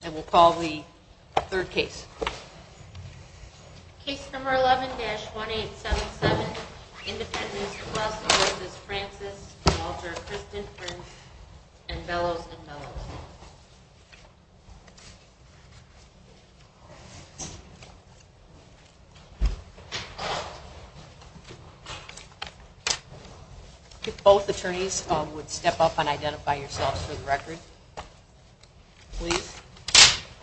and we'll call the third case. Case number 11-1877, Independence Plus v. Francis, Walter, Kristen, Prince, and Bellows and Bellows. If both attorneys would step up and identify yourselves for the record, please.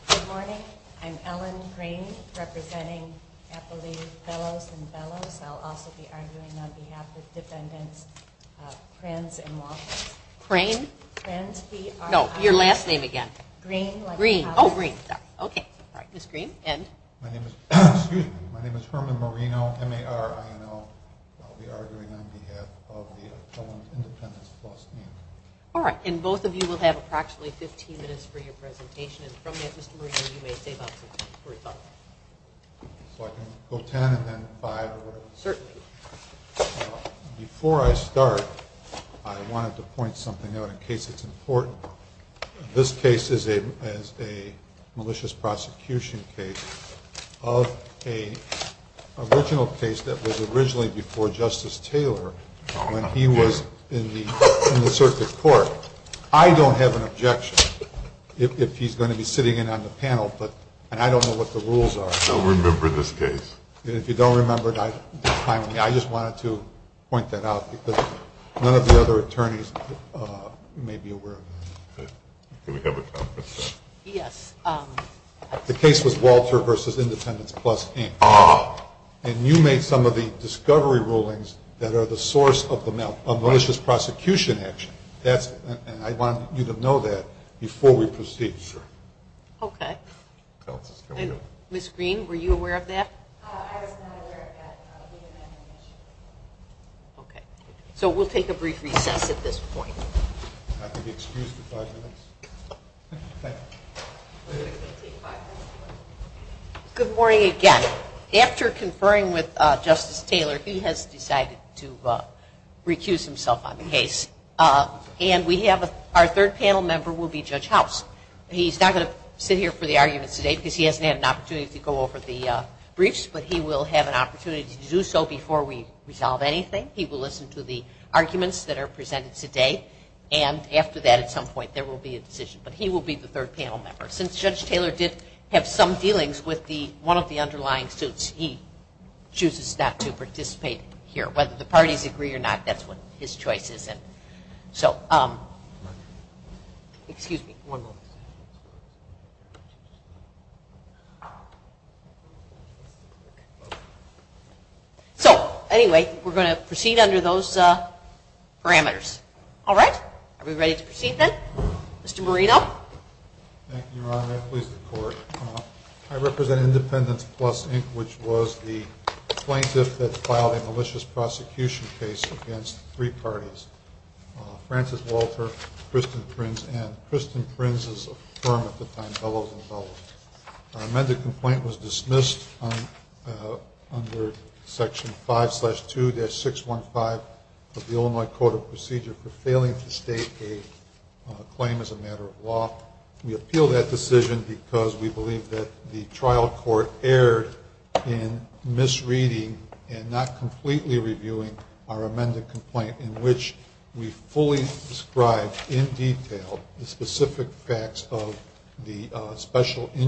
Good morning. I'm Ellen Crane, representing Appalachian Bellows and Bellows. I'll also be arguing on behalf of defendants Prince and Walter. My name is Herman Marino. I'll be arguing on behalf of the Appellant's Independence Plus case. All right. And both of you will have approximately 15 minutes for your presentation. Before I start, I wanted to point something out in case it's important. This case is a malicious prosecution case of an original case that was originally before Justice Taylor when he was in the circuit court. I don't have an objection if he's going to be sitting in on the panel, but I don't know what the rules are. I don't remember this case. If you don't remember, I just wanted to point that out because none of the other attorneys may be aware of it. The case was Walter v. Independence Plus, Inc. And you made some of the discovery rulings that are the source of the malicious prosecution action. And I want you to know that before we proceed. Okay. And Ms. Green, were you aware of that? Okay. So we'll take a brief recess at this point. Good morning again. After conferring with Justice Taylor, he has decided to recuse himself on the case. And we have our third panel member will be Judge House. He's not going to sit here for the arguments today because he hasn't had an opportunity to go over the briefs, but he will have an opportunity to do so before we resolve anything. He will listen to the arguments that are presented today. And after that, at some point, there will be a decision. But he will be the third panel member. Since Judge Taylor did have some dealings with one of the underlying suits, he chooses not to participate here. Whether the parties agree or not, that's what his choice is. So anyway, we're going to proceed under those parameters. All right. Are we ready to proceed then? Mr. Marino. Thank you, Your Honor. I represent Independence Plus, Inc., which was the plaintiff that filed a malicious prosecution case against three parties, Francis Walter, Kristen Prince, and Kristen Prince's firm at the time, Bellows & Bellows. Our amended complaint was dismissed under Section 5-2-615 of the Illinois Code of Procedure for failing to state a claim as a matter of law. We appeal that decision because we believe that the trial court erred in misreading and not completely reviewing our amended complaint, in which we fully described in detail the specific facts of the special injunctions.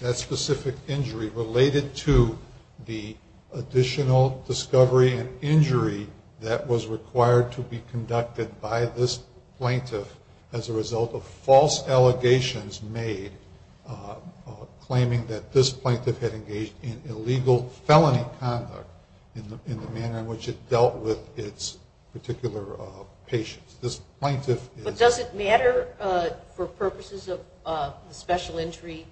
That specific injury related to the additional discovery and injury that was required to be conducted by this plaintiff as a result of false allegations made claiming that this plaintiff had engaged in illegal felony conduct in the manner in which it dealt with its particular patients. But does it matter for purposes of the special injury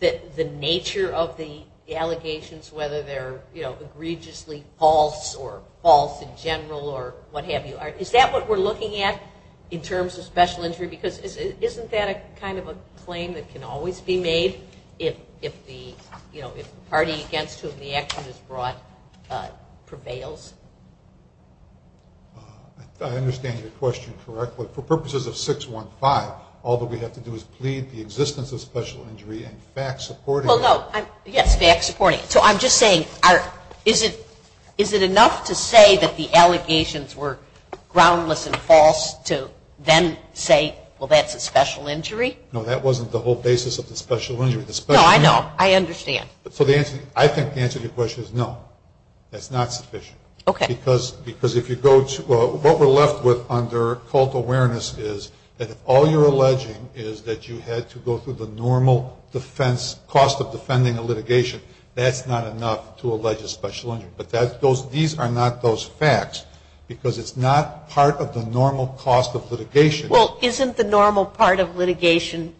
that the nature of the allegations, whether they're egregiously false or false in general or what have you, is that what we're looking at in terms of special injury? Because isn't that kind of a claim that can always be made if the party against whom the action is brought prevails? I understand your question correctly. For purposes of 615, all that we have to do is plead the existence of special injury and facts supporting it. Well, no. Yes, facts supporting it. So I'm just saying, is it enough to say that the allegations were groundless and false to then say, well, that's a special injury? No, that wasn't the whole basis of the special injury. No, I know. I understand. So the answer, I think the answer to your question is no. That's not sufficient. Okay. Because if you go to, what we're left with under cult awareness is that if all you're alleging is that you had to go through the normal defense, cost of defending a litigation, that's not enough to allege a special injury. But these are not those facts because it's not part of the normal cost of litigation. Well, isn't the normal part of litigation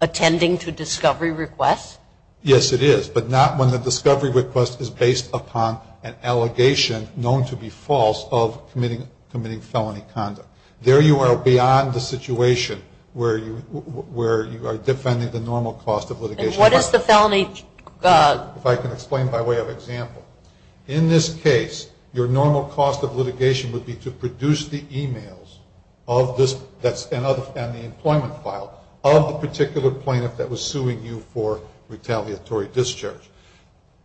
attending to discovery requests? Yes, it is, but not when the discovery request is based upon an allegation known to be false of committing felony conduct. There you are beyond the situation where you are defending the normal cost of litigation. And what is the felony? If I can explain by way of example. In this case, your normal cost of litigation would be to produce the emails and the employment file of the particular plaintiff that was suing you for retaliatory discharge.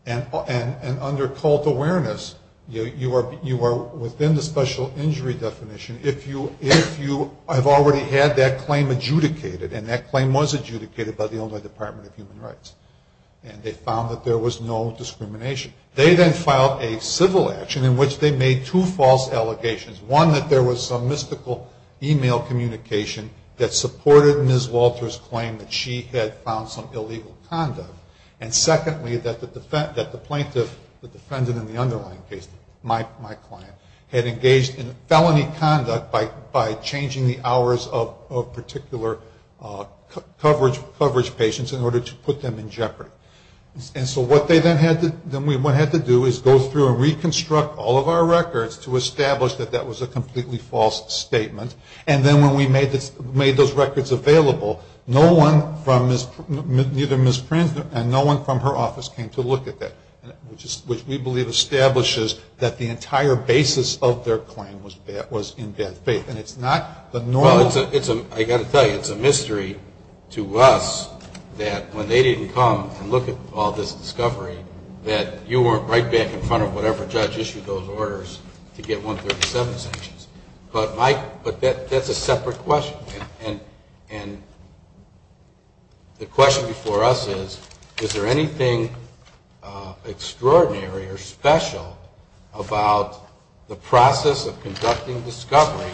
And under cult awareness, you are within the special injury definition if you have already had that claim adjudicated. And that claim was adjudicated by the Illinois Department of Human Rights. And they found that there was no discrimination. They then filed a civil action in which they made two false allegations. One, that there was some mystical email communication that supported Ms. Walter's claim that she had found some illegal conduct. And secondly, that the plaintiff, the defendant in the underlying case, my client, had engaged in felony conduct by changing the hours of particular coverage patients in order to put them in jeopardy. And so what they then had to do is go through and reconstruct all of our records to establish that that was a completely false statement. And then when we made those records available, no one from Ms. Prins and no one from her office came to look at that, which we believe establishes that the entire basis of their claim was in bad faith. And it's not the norm. Well, I've got to tell you, it's a mystery to us that when they didn't come and look at all this discovery, that you weren't right back in front of whatever judge issued those orders to get 137 sanctions. But, Mike, that's a separate question. And the question before us is, is there anything extraordinary or special about the process of conducting discovery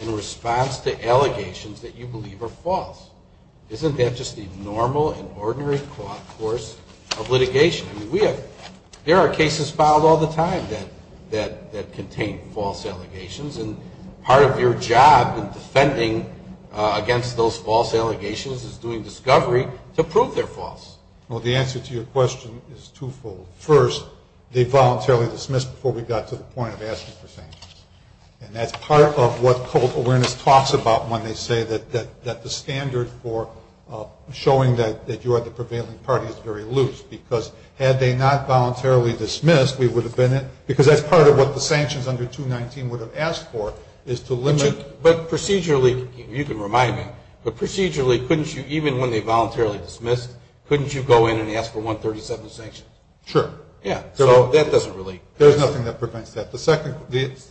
in response to allegations that you believe are false? Isn't that just the normal and ordinary course of litigation? There are cases filed all the time that contain false allegations, and part of your job in defending against those false allegations is doing discovery to prove they're false. Well, the answer to your question is twofold. First, they voluntarily dismissed before we got to the point of asking for sanctions. And that's part of what public awareness talks about when they say that the standard for showing that you are the prevailing party is very loose, because had they not voluntarily dismissed, we would have been in – because that's part of what the sanctions under 219 would have asked for, is to limit – But procedurally – you can remind me – but procedurally, couldn't you, even when they voluntarily dismissed, couldn't you go in and ask for 137 sanctions? Sure. Yeah, so that doesn't really – There's nothing that prevents that. The second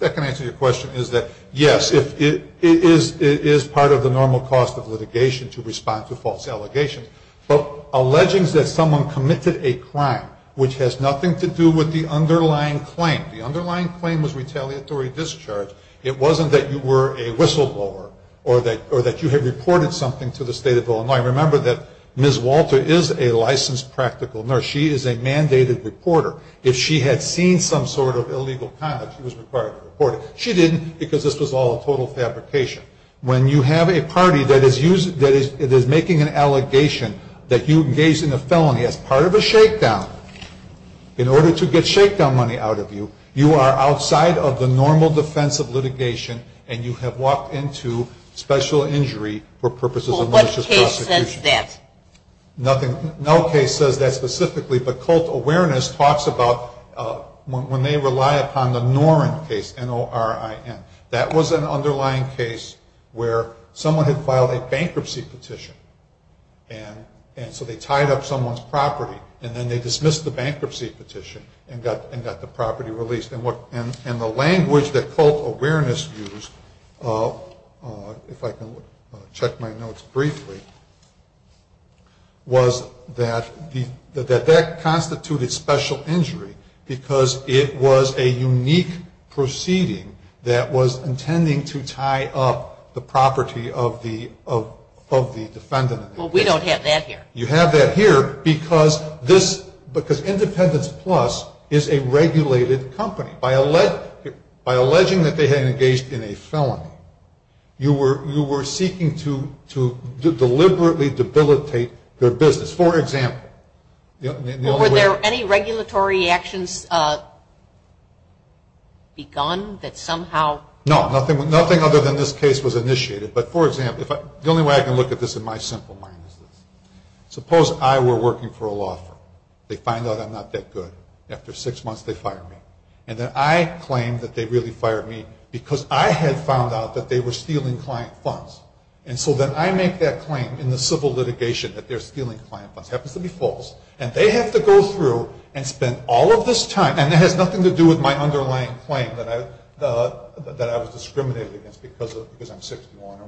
answer to your question is that, yes, it is part of the normal course of litigation to respond to false allegations. But alleging that someone committed a crime which has nothing to do with the underlying claim – the underlying claim was retaliatory discharge – it wasn't that you were a whistleblower or that you had reported something to the state of Illinois. Remember that Ms. Walter is a licensed practical nurse. She is a mandated reporter. If she had seen some sort of illegal conduct, she was required to report it. She didn't, because this was all a total fabrication. When you have a party that is making an allegation that you engaged in a felony as part of a shakedown, in order to get shakedown money out of you, you are outside of the normal defense of litigation and you have walked into special injury for purposes of malicious prosecution. Well, what case says that? No case says that specifically, but cult awareness talks about when they rely upon the Norrin case, N-O-R-R-I-N. That was an underlying case where someone had filed a bankruptcy petition, and so they tied up someone's property, and then they dismissed the bankruptcy petition and got the property released. And the language that cult awareness used – if I can check my notes briefly – was that that constituted special injury because it was a unique proceeding that was intending to tie up the property of the defendant. Well, we don't have that here. You have that here because Independence Plus is a regulated company. By alleging that they had engaged in a felony, you were seeking to deliberately debilitate their business. Well, were there any regulatory actions begun that somehow – No, nothing other than this case was initiated. But, for example, the only way I can look at this in my simple mind is this. Suppose I were working for a law firm. They find out I'm not that good. After six months, they fire me. And then I claim that they really fired me because I had found out that they were stealing client funds. And so then I make that claim in the civil litigation that they're stealing client funds. It happens to be false. And they have to go through and spend all of this time – and it has nothing to do with my underlying claim that I was discriminated against because I'm 61 or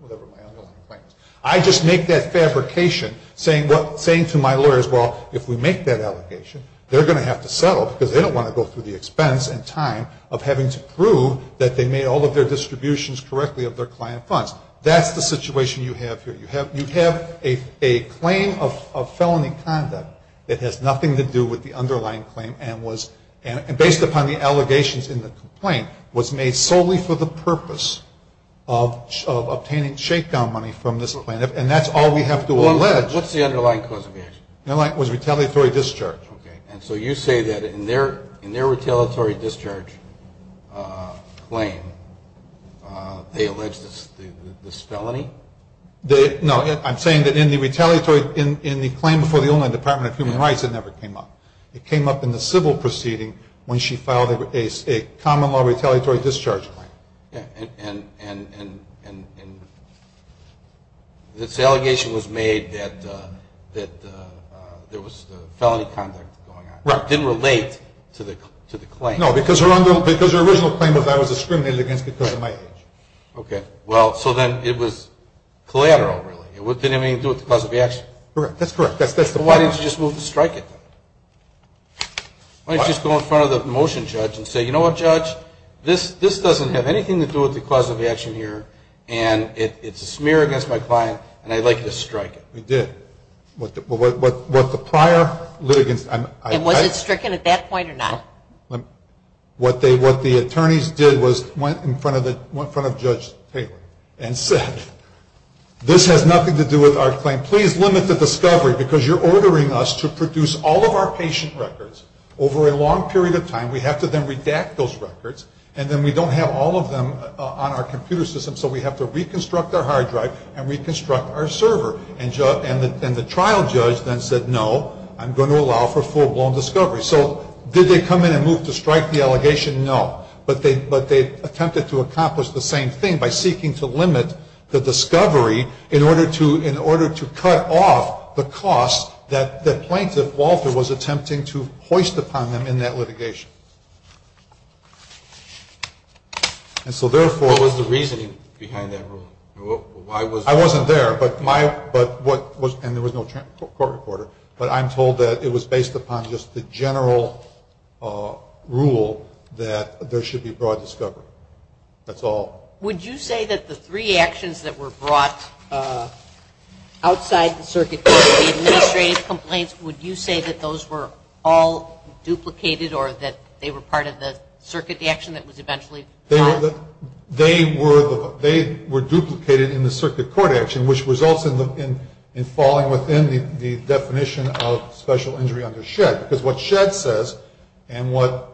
whatever my underlying claim is. I just make that fabrication, saying to my lawyers, well, if we make that allegation, they're going to have to settle because they don't want to go through the expense and time of having to prove that they made all of their distributions correctly of their client funds. That's the situation you have here. You have a claim of felony conduct that has nothing to do with the underlying claim and, based upon the allegations in the complaint, was made solely for the purpose of obtaining shakedown money from this client. And that's all we have to allege. Well, what's the underlying cause of the action? The underlying cause was retaliatory discharge. Okay. And so you say that in their retaliatory discharge claim, they alleged this felony? No. I'm saying that in the claim before the Illinois Department of Human Rights, it never came up. It came up in the civil proceeding when she filed a common law retaliatory discharge claim. And this allegation was made that there was felony conduct going on. Right. It didn't relate to the claim. No, because her original claim was I was discriminated against because of my age. Okay. Well, so then it was collateral, really. It didn't have anything to do with the cause of the action. Correct. That's correct. That's the point. Why didn't you just move to strike it, then? Why didn't you just go in front of the motion judge and say, you know what, judge, this doesn't have anything to do with the cause of the action here, and it's a smear against my client, and I'd like you to strike it? We did. What the prior litigants – And was it stricken at that point or not? What the attorneys did was went in front of Judge Taylor and said, this has nothing to do with our claim. Please limit the discovery because you're ordering us to produce all of our patient records. Over a long period of time, we have to then redact those records, and then we don't have all of them on our computer system, so we have to reconstruct our hard drive and reconstruct our server. And the trial judge then said, no, I'm going to allow for full-blown discovery. So did they come in and move to strike the allegation? No. But they attempted to accomplish the same thing by seeking to limit the discovery in order to cut off the cost that the plaintiff, Walter, was attempting to hoist upon them in that litigation. And so therefore – What was the reasoning behind that rule? I wasn't there, and there was no court recorder, but I'm told that it was based upon just the general rule that there should be broad discovery. That's all. Would you say that the three actions that were brought outside the circuit court, the administrative complaints, would you say that those were all duplicated or that they were part of the circuit action that was eventually brought? They were duplicated in the circuit court action, which results in falling within the definition of special injury under S.H.E.D. because what S.H.E.D. says and what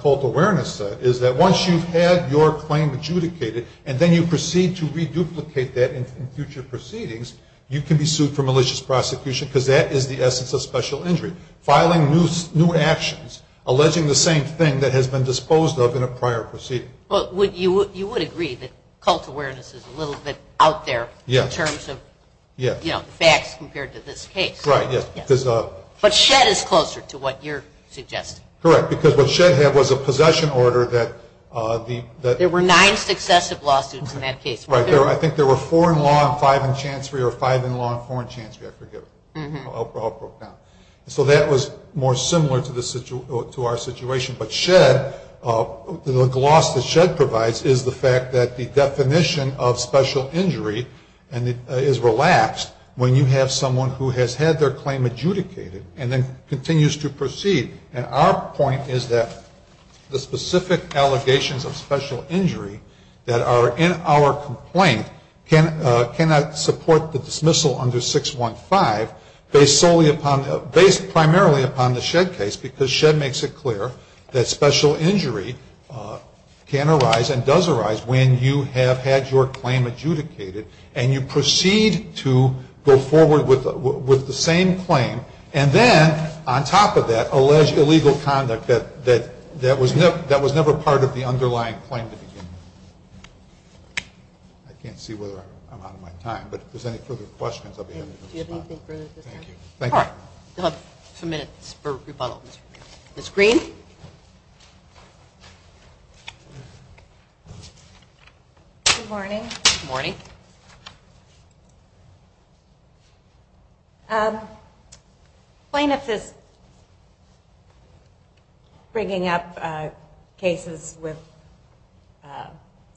cult awareness says is that once you've had your claim adjudicated and then you proceed to reduplicate that in future proceedings, you can be sued for malicious prosecution because that is the essence of special injury, filing new actions alleging the same thing that has been disposed of in a prior proceeding. You would agree that cult awareness is a little bit out there in terms of facts compared to this case. Right, yes. But S.H.E.D. is closer to what you're suggesting. Correct, because what S.H.E.D. had was a possession order that the- There were nine successive lawsuits in that case. Right. I think there were four in law and five in chancery or five in law and four in chancery. I forget. So that was more similar to our situation. But S.H.E.D., the gloss that S.H.E.D. provides is the fact that the definition of special injury is relapsed when you have someone who has had their claim adjudicated and then continues to proceed. And our point is that the specific allegations of special injury that are in our complaint cannot support the dismissal under 615 based primarily upon the S.H.E.D. case because S.H.E.D. makes it clear that special injury can arise and does arise when you have had your claim adjudicated and you proceed to go forward with the same claim. And then on top of that, allege illegal conduct that was never part of the underlying claim to begin with. I can't see whether I'm out of my time, but if there's any further questions, I'll be happy to respond. Do you have anything further to say? Thank you. All right. We'll have a few minutes for rebuttals. Ms. Green? Good morning. Good morning. Plaintiff is bringing up cases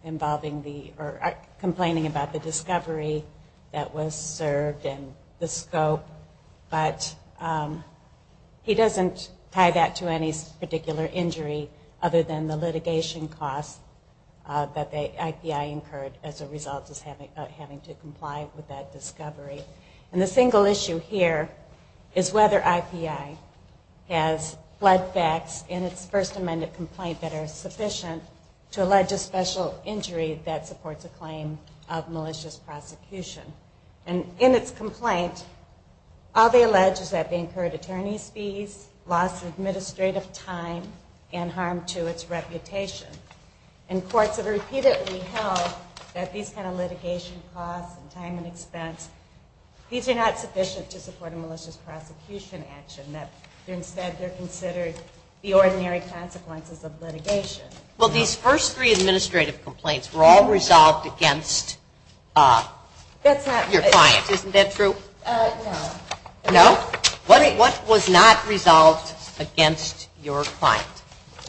involving the or complaining about the discovery that was served and the scope, but he doesn't tie that to any particular injury other than the litigation costs that the IPI incurred as a result of having to comply with that discovery. And the single issue here is whether IPI has flood facts in its first amended complaint that are sufficient to allege a special injury that supports a claim of malicious prosecution. And in its complaint, all they allege is that they incurred attorney's fees, lost administrative time, and harm to its reputation. And courts have repeatedly held that these kind of litigation costs and time and expense, these are not sufficient to support a malicious prosecution action, that instead they're considered the ordinary consequences of litigation. Well, these first three administrative complaints were all resolved against your client. Isn't that true? No. No? What was not resolved against your client?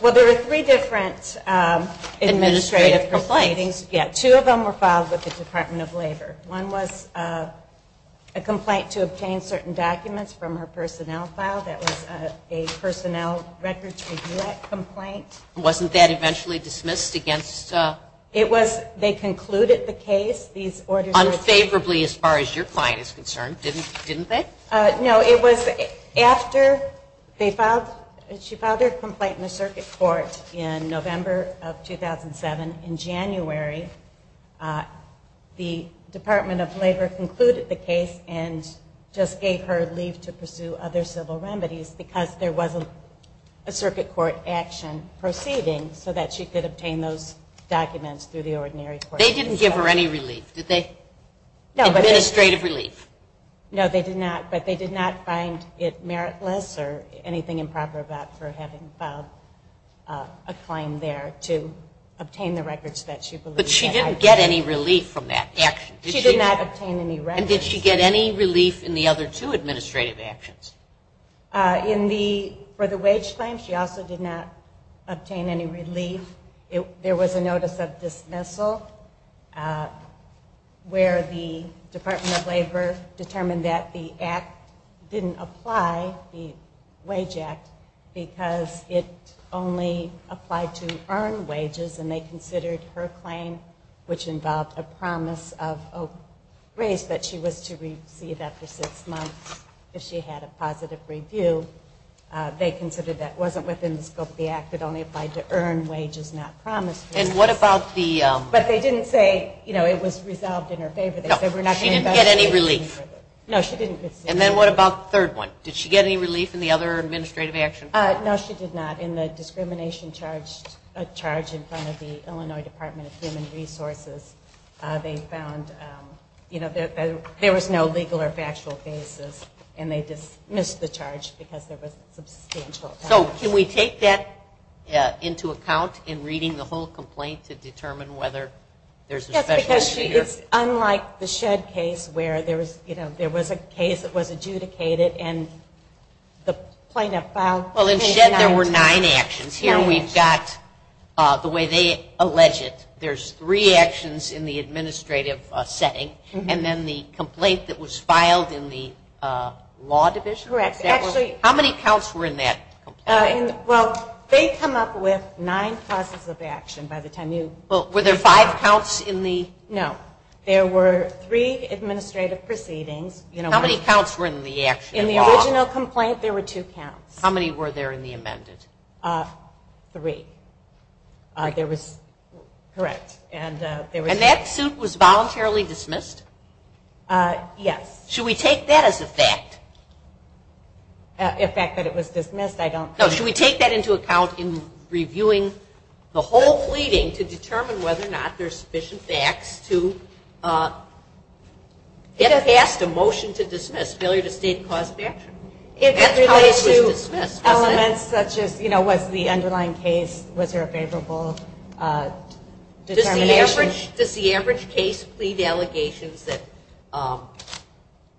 Well, there were three different administrative proceedings. Administrative complaints. Yeah, two of them were filed with the Department of Labor. One was a complaint to obtain certain documents from her personnel file. That was a personnel records review act complaint. Wasn't that eventually dismissed against? It was. They concluded the case. Unfavorably as far as your client is concerned, didn't they? No. It was after she filed her complaint in the circuit court in November of 2007. In January, the Department of Labor concluded the case and just gave her leave to pursue other civil remedies because there wasn't a circuit court action proceeding so that she could obtain those documents through the ordinary court. They didn't give her any relief, did they? No. Administrative relief. No, they did not. But they did not find it meritless or anything improper about her having filed a claim there to obtain the records that she believed that I did. She did not obtain any relief. And did she get any relief in the other two administrative actions? For the wage claim, she also did not obtain any relief. There was a notice of dismissal where the Department of Labor determined that the act didn't apply, the wage act, because it only applied to earned wages and they considered her claim, which involved a promise of a raise that she was to receive after six months if she had a positive review, they considered that wasn't within the scope of the act. It only applied to earned wages, not promised wages. But they didn't say it was resolved in her favor. No, she didn't get any relief. No, she didn't. And then what about the third one? Did she get any relief in the other administrative actions? No, she did not. In the discrimination charge in front of the Illinois Department of Human Resources, they found there was no legal or factual basis, and they dismissed the charge because there was substantial. So can we take that into account in reading the whole complaint to determine whether there's a specialty here? Yes, because it's unlike the Shedd case where there was a case that was adjudicated and the plaintiff filed case denied it. Well, in Shedd there were nine actions. Here we've got, the way they allege it, there's three actions in the administrative setting, and then the complaint that was filed in the law division? Correct. How many counts were in that complaint? Well, they come up with nine causes of action by the time you. Well, were there five counts in the? No. There were three administrative proceedings. How many counts were in the action? In the original complaint, there were two counts. How many were there in the amended? Three. There was, correct, and there was. And that suit was voluntarily dismissed? Yes. Should we take that as a fact? A fact that it was dismissed, I don't think. No, should we take that into account in reviewing the whole pleading to determine whether or not there's sufficient facts to get past a motion to dismiss, failure to state cause of action? That's how it was dismissed, wasn't it? It relates to elements such as, you know, was the underlying case, was there a favorable determination? Does the average case plead allegations that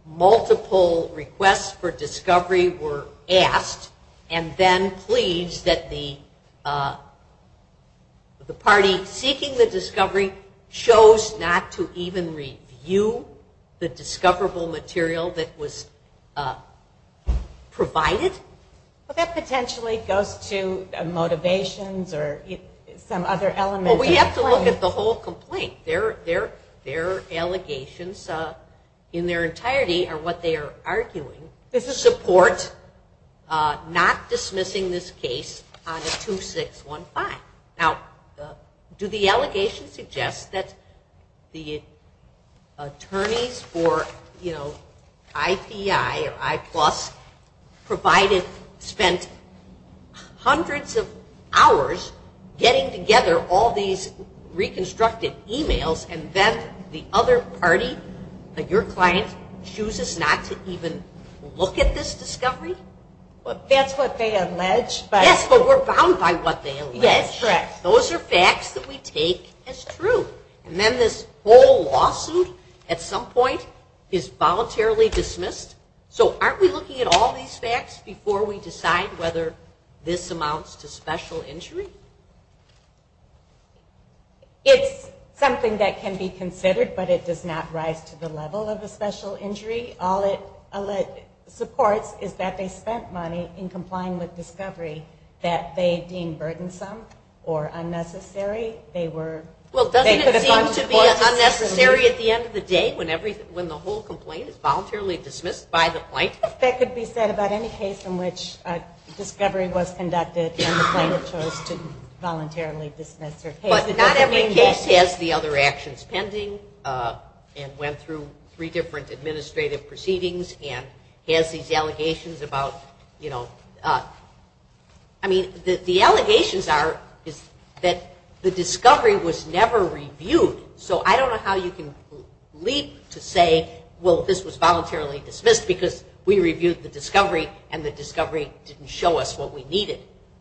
multiple requests for discovery were asked and then pleads that the party seeking the discovery chose not to even review the discoverable material that was provided? Well, that potentially goes to motivations or some other elements. Well, we have to look at the whole complaint. Their allegations in their entirety are what they are arguing. There's a support not dismissing this case on a 2-6-1-5. Now, do the allegations suggest that the attorneys for, you know, and then the other party, your client, chooses not to even look at this discovery? That's what they allege. Yes, but we're bound by what they allege. Yes, correct. Those are facts that we take as true. And then this whole lawsuit at some point is voluntarily dismissed. So aren't we looking at all these facts before we decide whether this amounts to special injury? It's something that can be considered, but it does not rise to the level of a special injury. All it supports is that they spent money in complying with discovery that they deemed burdensome or unnecessary. Well, doesn't it seem to be unnecessary at the end of the day when the whole complaint is voluntarily dismissed by the plaintiff? That could be said about any case in which discovery was conducted and the plaintiff chose to voluntarily dismiss their case. But not every case has the other actions pending and went through three different administrative proceedings and has these allegations about, you know, I mean, the allegations are that the discovery was never reviewed. So I don't know how you can leap to say, well, this was voluntarily dismissed because we reviewed the discovery and the discovery didn't show us what we needed.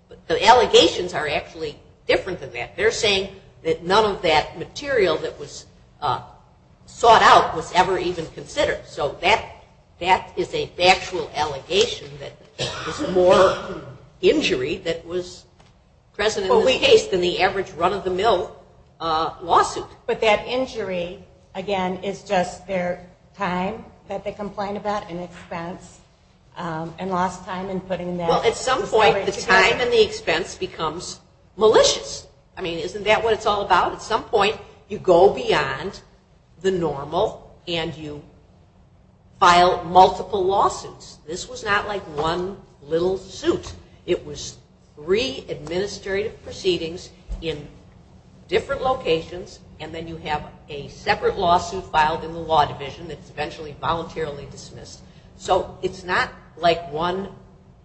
But the allegations are actually different than that. They're saying that none of that material that was sought out was ever even considered. So that is a factual allegation that there's more injury that was present in this case than the average run-of-the-mill lawsuit. But that injury, again, is just their time that they complained about and expense and lost time in putting that discovery together? Well, at some point the time and the expense becomes malicious. I mean, isn't that what it's all about? At some point you go beyond the normal and you file multiple lawsuits. This was not like one little suit. It was three administrative proceedings in different locations and then you have a separate lawsuit filed in the law division that's eventually voluntarily dismissed. So it's not like one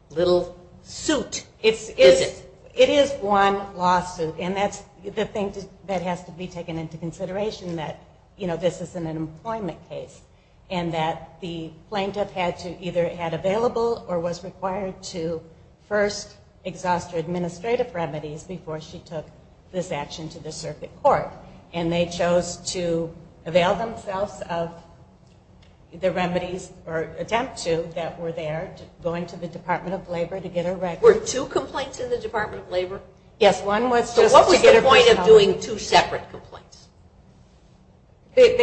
little suit, is it? It is one lawsuit. And that's the thing that has to be taken into consideration that, you know, this isn't an employment case and that the plaintiff either had available or was required to first exhaust her administrative remedies before she took this action to the circuit court. And they chose to avail themselves of the remedies or attempt to that were there, going to the Department of Labor to get a record. Were two complaints in the Department of Labor? Yes. So what was the point of doing two separate complaints? Because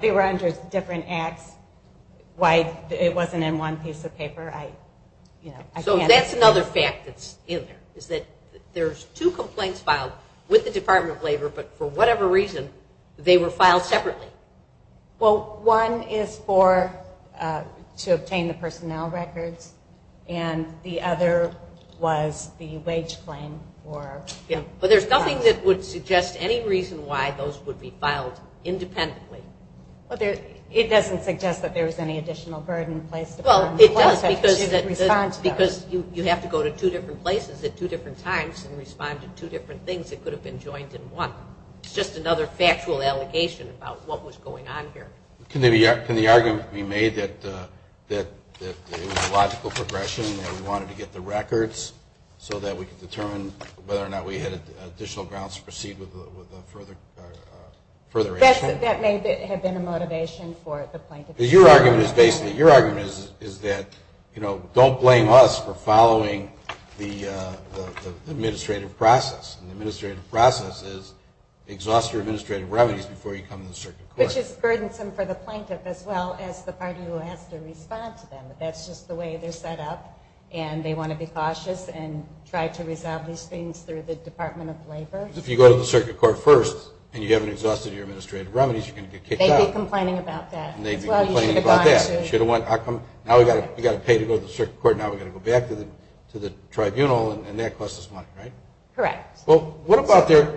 they were under different acts. It wasn't in one piece of paper. So that's another fact that's in there is that there's two complaints filed with the Department of Labor, but for whatever reason they were filed separately. Well, one is to obtain the personnel records and the other was the wage claim. But there's nothing that would suggest any reason why those would be filed independently. It doesn't suggest that there was any additional burden placed upon them. Well, it does because you have to go to two different places at two different times and respond to two different things that could have been joined in one. It's just another factual allegation about what was going on here. Can the argument be made that it was a logical progression and we wanted to get the records so that we could determine whether or not we had additional grounds to proceed with a further action? That may have been a motivation for the plaintiff. Because your argument is basically, your argument is that, you know, don't blame us for following the administrative process, and the administrative process is exhaust your administrative remedies before you come to the circuit court. Which is burdensome for the plaintiff as well as the party who has to respond to them. That's just the way they're set up. And they want to be cautious and try to resolve these things through the Department of Labor. If you go to the circuit court first and you haven't exhausted your administrative remedies, you're going to get kicked out. They'd be complaining about that as well. You should have gone to... Now we've got to pay to go to the circuit court, now we've got to go back to the tribunal, and that costs us money, right? Correct. Well, what about their...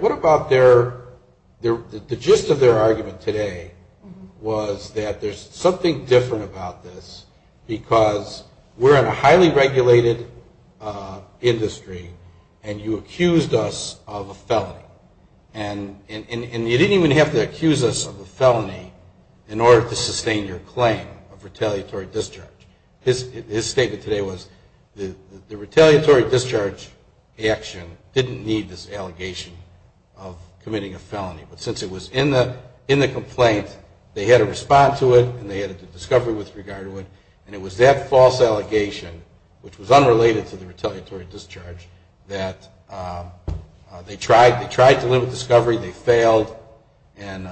was that there's something different about this because we're in a highly regulated industry and you accused us of a felony. And you didn't even have to accuse us of a felony in order to sustain your claim of retaliatory discharge. His statement today was the retaliatory discharge action didn't need this allegation of committing a felony. But since it was in the complaint, they had to respond to it and they had to do discovery with regard to it. And it was that false allegation, which was unrelated to the retaliatory discharge, that they tried to limit discovery, they failed, and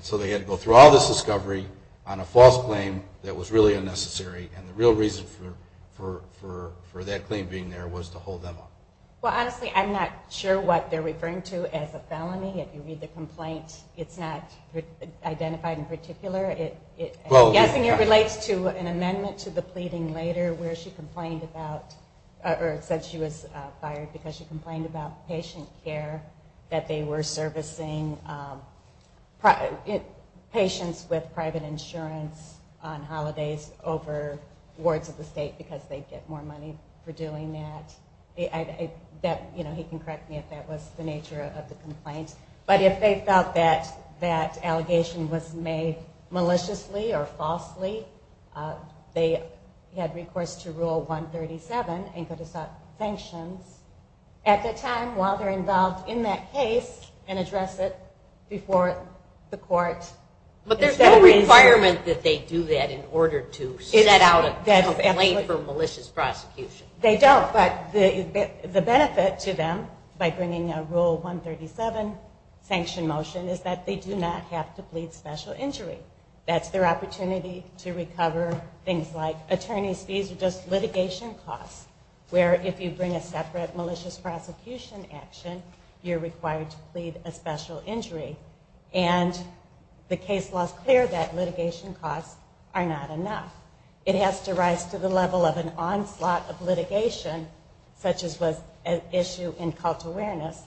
so they had to go through all this discovery on a false claim that was really unnecessary. And the real reason for that claim being there was to hold them up. Well, honestly, I'm not sure what they're referring to as a felony. If you read the complaint, it's not identified in particular. I'm guessing it relates to an amendment to the pleading later where she complained about... or said she was fired because she complained about patient care, that they were servicing patients with private insurance on holidays over wards of the state because they'd get more money for doing that. He can correct me if that was the nature of the complaint. But if they felt that that allegation was made maliciously or falsely, they had recourse to Rule 137 and could have sought sanctions. At the time, while they're involved in that case and address it before the court... It's a requirement that they do that in order to seek out a claim for malicious prosecution. They don't, but the benefit to them by bringing a Rule 137 sanction motion is that they do not have to plead special injury. That's their opportunity to recover things like attorney's fees or just litigation costs, where if you bring a separate malicious prosecution action, you're required to plead a special injury. And the case law is clear that litigation costs are not enough. It has to rise to the level of an onslaught of litigation, such as was an issue in cult awareness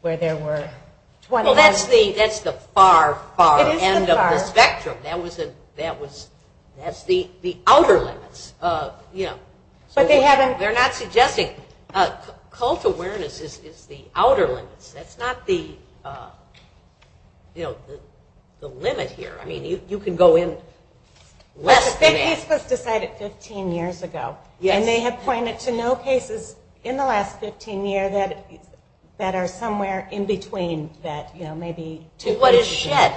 where there were... Well, that's the far, far end of the spectrum. It is the far. That's the outer limits. But they haven't... They're not suggesting... Cult awareness is the outer limits. That's not the limit here. I mean, you can go in less than that. The case was decided 15 years ago, and they have pointed to no cases in the last 15 years that are somewhere in between that, you know, maybe... What is SHED?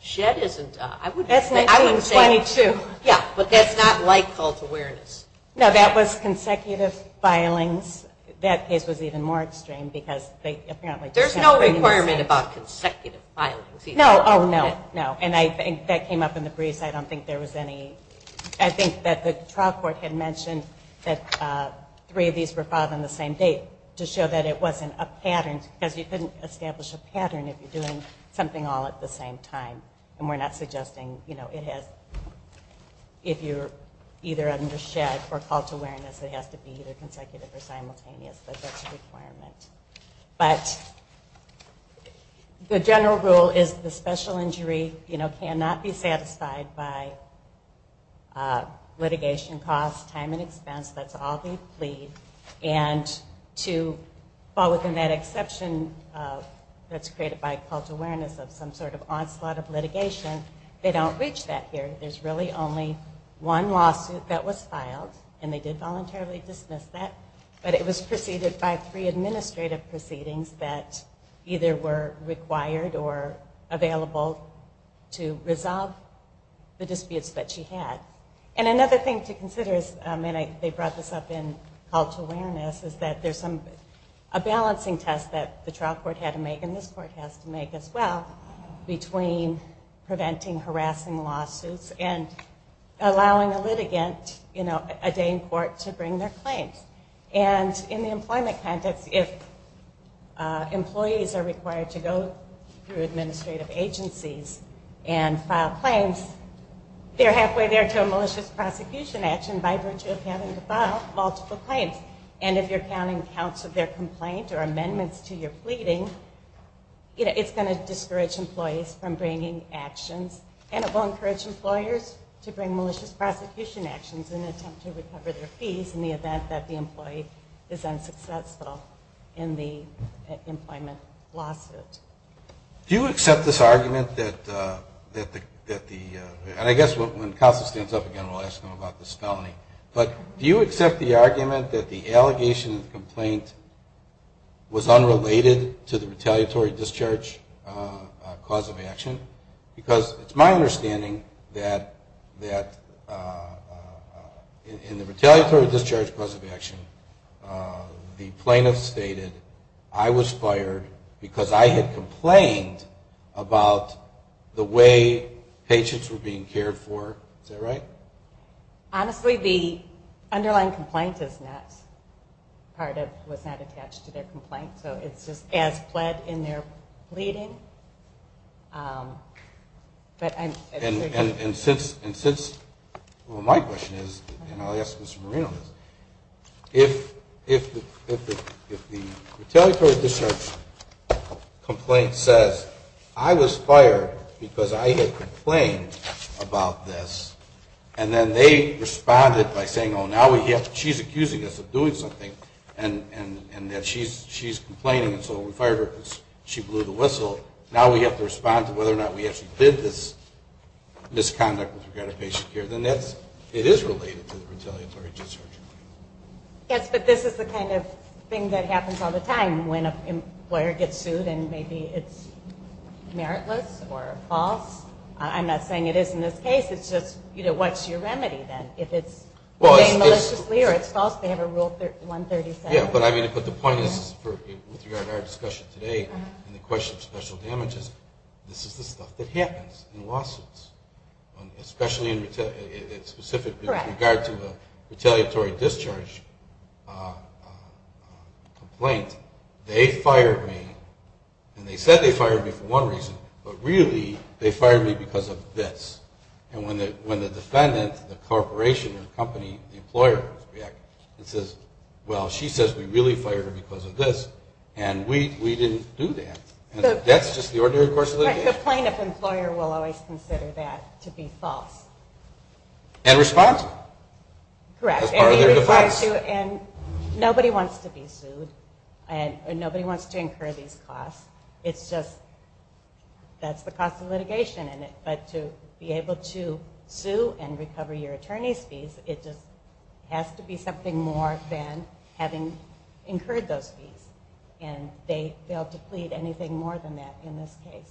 SHED isn't... That's 1922. Yeah, but that's not like cult awareness. No, that was consecutive filings. That case was even more extreme because they apparently... There's no requirement about consecutive filings. No, oh, no, no. And I think that came up in the briefs. I don't think there was any... I think that the trial court had mentioned that three of these were filed on the same date to show that it wasn't a pattern because you couldn't establish a pattern if you're doing something all at the same time. And we're not suggesting, you know, it has... If you're either under SHED or cult awareness, it has to be either consecutive or simultaneous, but that's a requirement. But the general rule is the special injury, you know, cannot be satisfied by litigation costs, time and expense. That's all they plead. And to fall within that exception that's created by cult awareness of some sort of onslaught of litigation, they don't reach that here. There's really only one lawsuit that was filed, and they did voluntarily dismiss that, but it was preceded by three administrative proceedings that either were required or available to resolve the disputes that she had. And another thing to consider is, and they brought this up in cult awareness, is that there's a balancing test that the trial court had to make, and this court has to make as well, between preventing harassing lawsuits and allowing a litigant, you know, a day in court to bring their claims. And in the employment context, if employees are required to go through administrative agencies and file claims, they're halfway there to a malicious prosecution action by virtue of having to file multiple claims. And if you're counting counts of their complaint or amendments to your pleading, you know, it's going to discourage employees from bringing actions, and it will encourage employers to bring malicious prosecution actions in an attempt to recover their fees in the event that the employee is unsuccessful in the employment lawsuit. Do you accept this argument that the, and I guess when Counselor stands up again, we'll ask him about this felony, but do you accept the argument that the allegation of the complaint was unrelated to the retaliatory discharge cause of action? Because it's my understanding that in the retaliatory discharge cause of action, the plaintiff stated, I was fired because I had complained about the way patients were being cared for. Is that right? Honestly, the underlying complaint is not part of, was not attached to their complaint. So it's just as pled in their pleading. And since, well, my question is, and I'll ask Mr. Marino this, if the retaliatory discharge complaint says, I was fired because I had complained about this, and then they responded by saying, oh, now she's accusing us of doing something, and that she's complaining, and so we fired her because she blew the whistle, now we have to respond to whether or not we actually did this misconduct with regard to patient care, then that's, it is related to the retaliatory discharge. Yes, but this is the kind of thing that happens all the time when an employer gets sued and maybe it's meritless or false. I'm not saying it is in this case. It's just, you know, what's your remedy then? If it's being maliciously or it's false, they have a Rule 137. Yeah, but I mean, but the point is, with regard to our discussion today, and the question of special damages, this is the stuff that happens in lawsuits, especially in specific with regard to a retaliatory discharge complaint. They fired me, and they said they fired me for one reason, but really they fired me because of this. And when the defendant, the corporation or the company, the employer, and says, well, she says we really fired her because of this, and we didn't do that. That's just the ordinary course of litigation. The plaintiff employer will always consider that to be false. And respond to it. Correct. As part of their defense. And nobody wants to be sued, and nobody wants to incur these costs. It's just, that's the cost of litigation. But to be able to sue and recover your attorney's fees, it just has to be something more than having incurred those fees. And they failed to plead anything more than that in this case.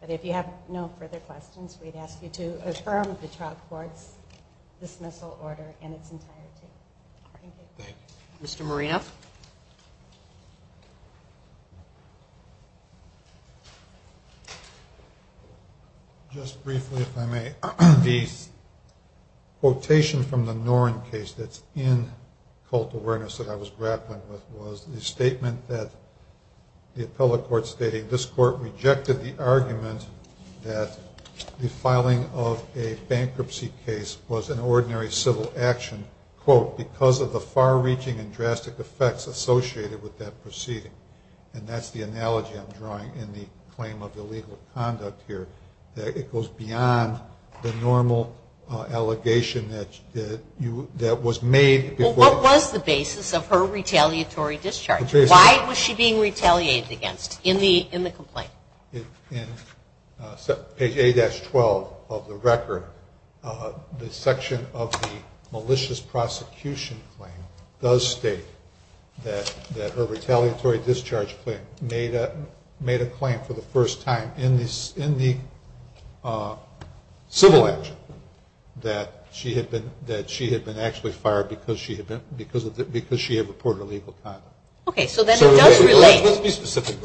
But if you have no further questions, we'd ask you to affirm the trial court's dismissal order in its entirety. Thank you. Mr. Moreno. Just briefly, if I may, the quotation from the Noren case that's in cult awareness that I was grappling with was the statement that the appellate court stated, this court rejected the argument that the filing of a bankruptcy case was an error because of the far-reaching and drastic effects associated with that proceeding. And that's the analogy I'm drawing in the claim of illegal conduct here, that it goes beyond the normal allegation that was made. Well, what was the basis of her retaliatory discharge? Why was she being retaliated against in the complaint? In page 8-12 of the record, the section of the malicious prosecution claim does state that her retaliatory discharge claim made a claim for the first time in the civil action that she had been actually fired because she had reported illegal conduct. Okay. So then it does relate. Let's be specific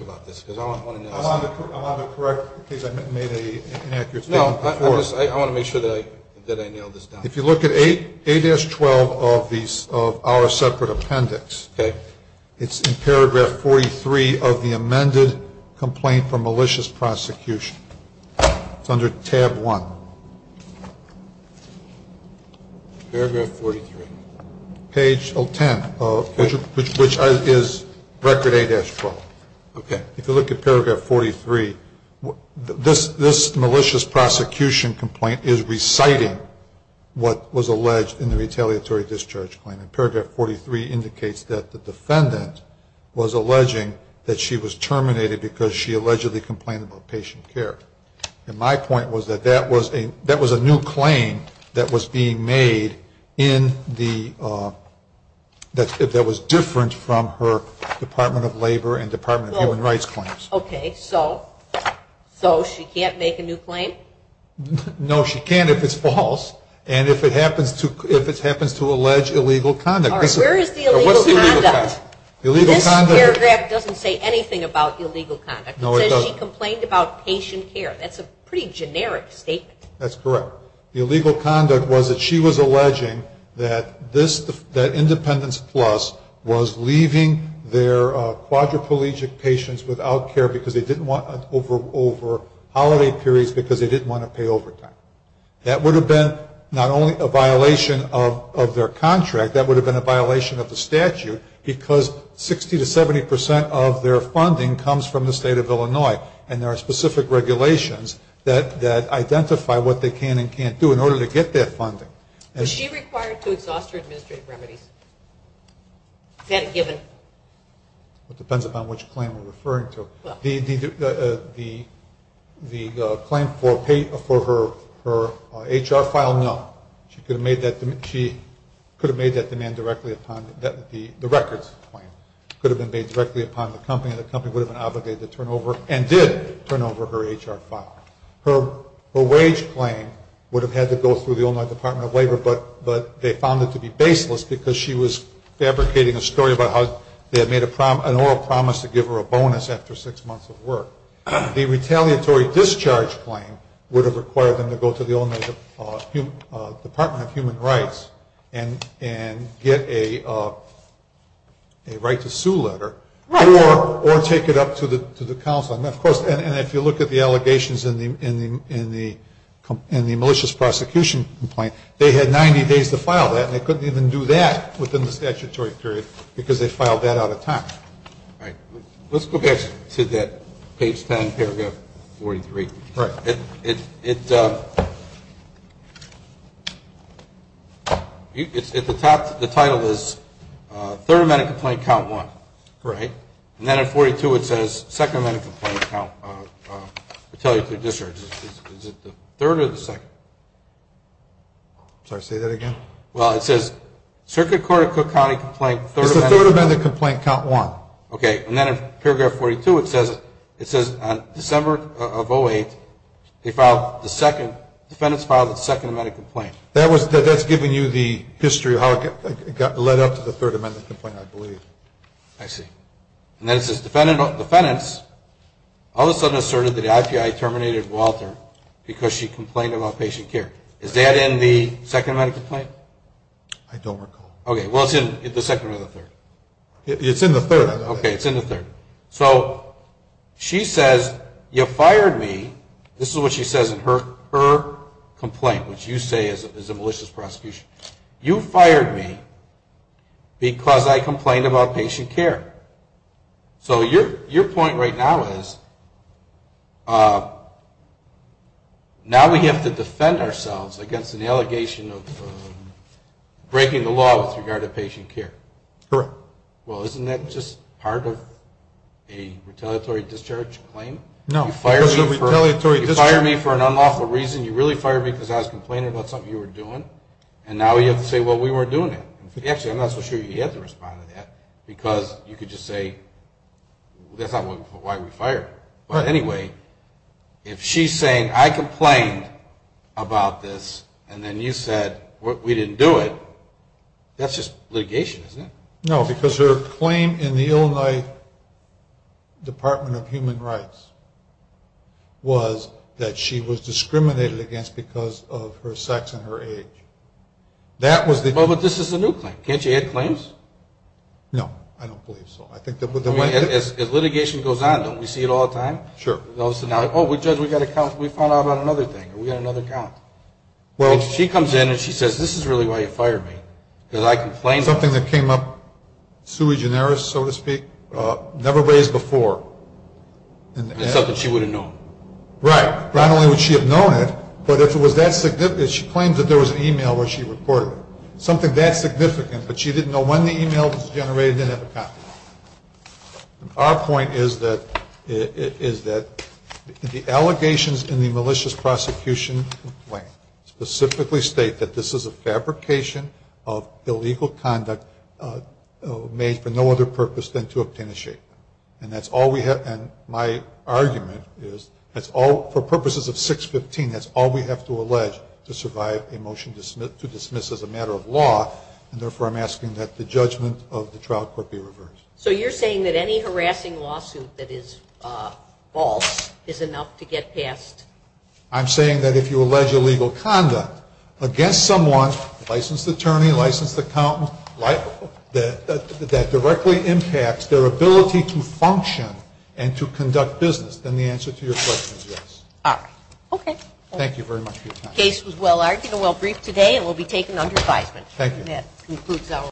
about this because I want to know. I'm on the correct case. I made an inaccurate statement before. No, I want to make sure that I nailed this down. If you look at 8-12 of our separate appendix, it's in paragraph 43 of the amended complaint for malicious prosecution. It's under tab 1. Paragraph 43. Page 10, which is record 8-12. Okay. If you look at paragraph 43, this malicious prosecution complaint is reciting what was alleged in the retaliatory discharge claim. And paragraph 43 indicates that the defendant was alleging that she was terminated because she allegedly complained about patient care. And my point was that that was a new claim that was being made that was different from her Department of Labor and Department of Human Rights claims. Okay. So she can't make a new claim? No, she can't if it's false and if it happens to allege illegal conduct. All right. Where is the illegal conduct? This paragraph doesn't say anything about illegal conduct. No, it doesn't. That's a pretty generic statement. That's correct. The illegal conduct was that she was alleging that Independence Plus was leaving their quadriplegic patients without care over holiday periods because they didn't want to pay overtime. That would have been not only a violation of their contract, that would have been a violation of the statute because 60 to 70 percent of their funding comes from the State of Illinois and there are specific regulations that identify what they can and can't do in order to get their funding. Was she required to exhaust her administrative remedies? Is that a given? It depends upon which claim we're referring to. The claim for her HR file, no. She could have made that demand directly upon the records claim. It could have been made directly upon the company and the company would have been obligated to turn over and did turn over her HR file. Her wage claim would have had to go through the Illinois Department of Labor, but they found it to be baseless because she was fabricating a story about how they had made an oral promise to give her a bonus after six months of work. The retaliatory discharge claim would have required them to go to the Illinois Department of Human Rights and get a right to sue letter or take it up to the counsel. And, of course, if you look at the allegations in the malicious prosecution complaint, they had 90 days to file that and they couldn't even do that within the statutory period because they filed that out of time. Let's go back to that page 10, paragraph 43. Right. It's at the top. The title is third amendment complaint count one. Right. And then at 42 it says second amendment complaint count retaliatory discharge. Is it the third or the second? Sorry, say that again. Well, it says circuit court of Cook County complaint third amendment. It's the third amendment complaint count one. Okay. And then in paragraph 42 it says on December of 08, they filed the second, defendants filed the second amendment complaint. That's giving you the history of how it led up to the third amendment complaint, I believe. I see. And then it says defendants all of a sudden asserted that the IPI terminated Walter because she complained about patient care. Is that in the second amendment complaint? I don't recall. Okay. Well, it's in the second or the third. It's in the third, I believe. Okay. It's in the third. So she says you fired me. This is what she says in her complaint, which you say is a malicious prosecution. You fired me because I complained about patient care. So your point right now is now we have to defend ourselves against an allegation of breaking the law with regard to patient care. Correct. Well, isn't that just part of a retaliatory discharge claim? No. You fired me for an unlawful reason. You really fired me because I was complaining about something you were doing. And now you have to say, well, we weren't doing it. Actually, I'm not so sure you had to respond to that because you could just say that's not why we fired. But anyway, if she's saying I complained about this and then you said we didn't do it, that's just litigation, isn't it? No, because her claim in the Illinois Department of Human Rights was that she was discriminated against because of her sex and her age. But this is a new claim. Can't you add claims? No, I don't believe so. As litigation goes on, don't we see it all the time? Sure. Oh, Judge, we found out about another thing. We got another count. She comes in and she says this is really why you fired me because I never raised before. That's something she would have known. Right. Not only would she have known it, but if it was that significant, she claims that there was an e-mail where she reported it, something that significant, but she didn't know when the e-mail was generated and didn't have a copy. Our point is that the allegations in the malicious prosecution complaint specifically state that this is a fabrication of illegal conduct made for no other purpose than to obtain a shape. And that's all we have. And my argument is for purposes of 615, that's all we have to allege to survive a motion to dismiss as a matter of law, and therefore I'm asking that the judgment of the trial court be reversed. So you're saying that any harassing lawsuit that is false is enough to get passed? I'm saying that if you allege illegal conduct against someone, licensed attorney, licensed accountant, that directly impacts their ability to function and to conduct business, then the answer to your question is yes. All right. Okay. Thank you very much for your time. The case was well-argued and well-briefed today and will be taken under advisement. Thank you. And that concludes our.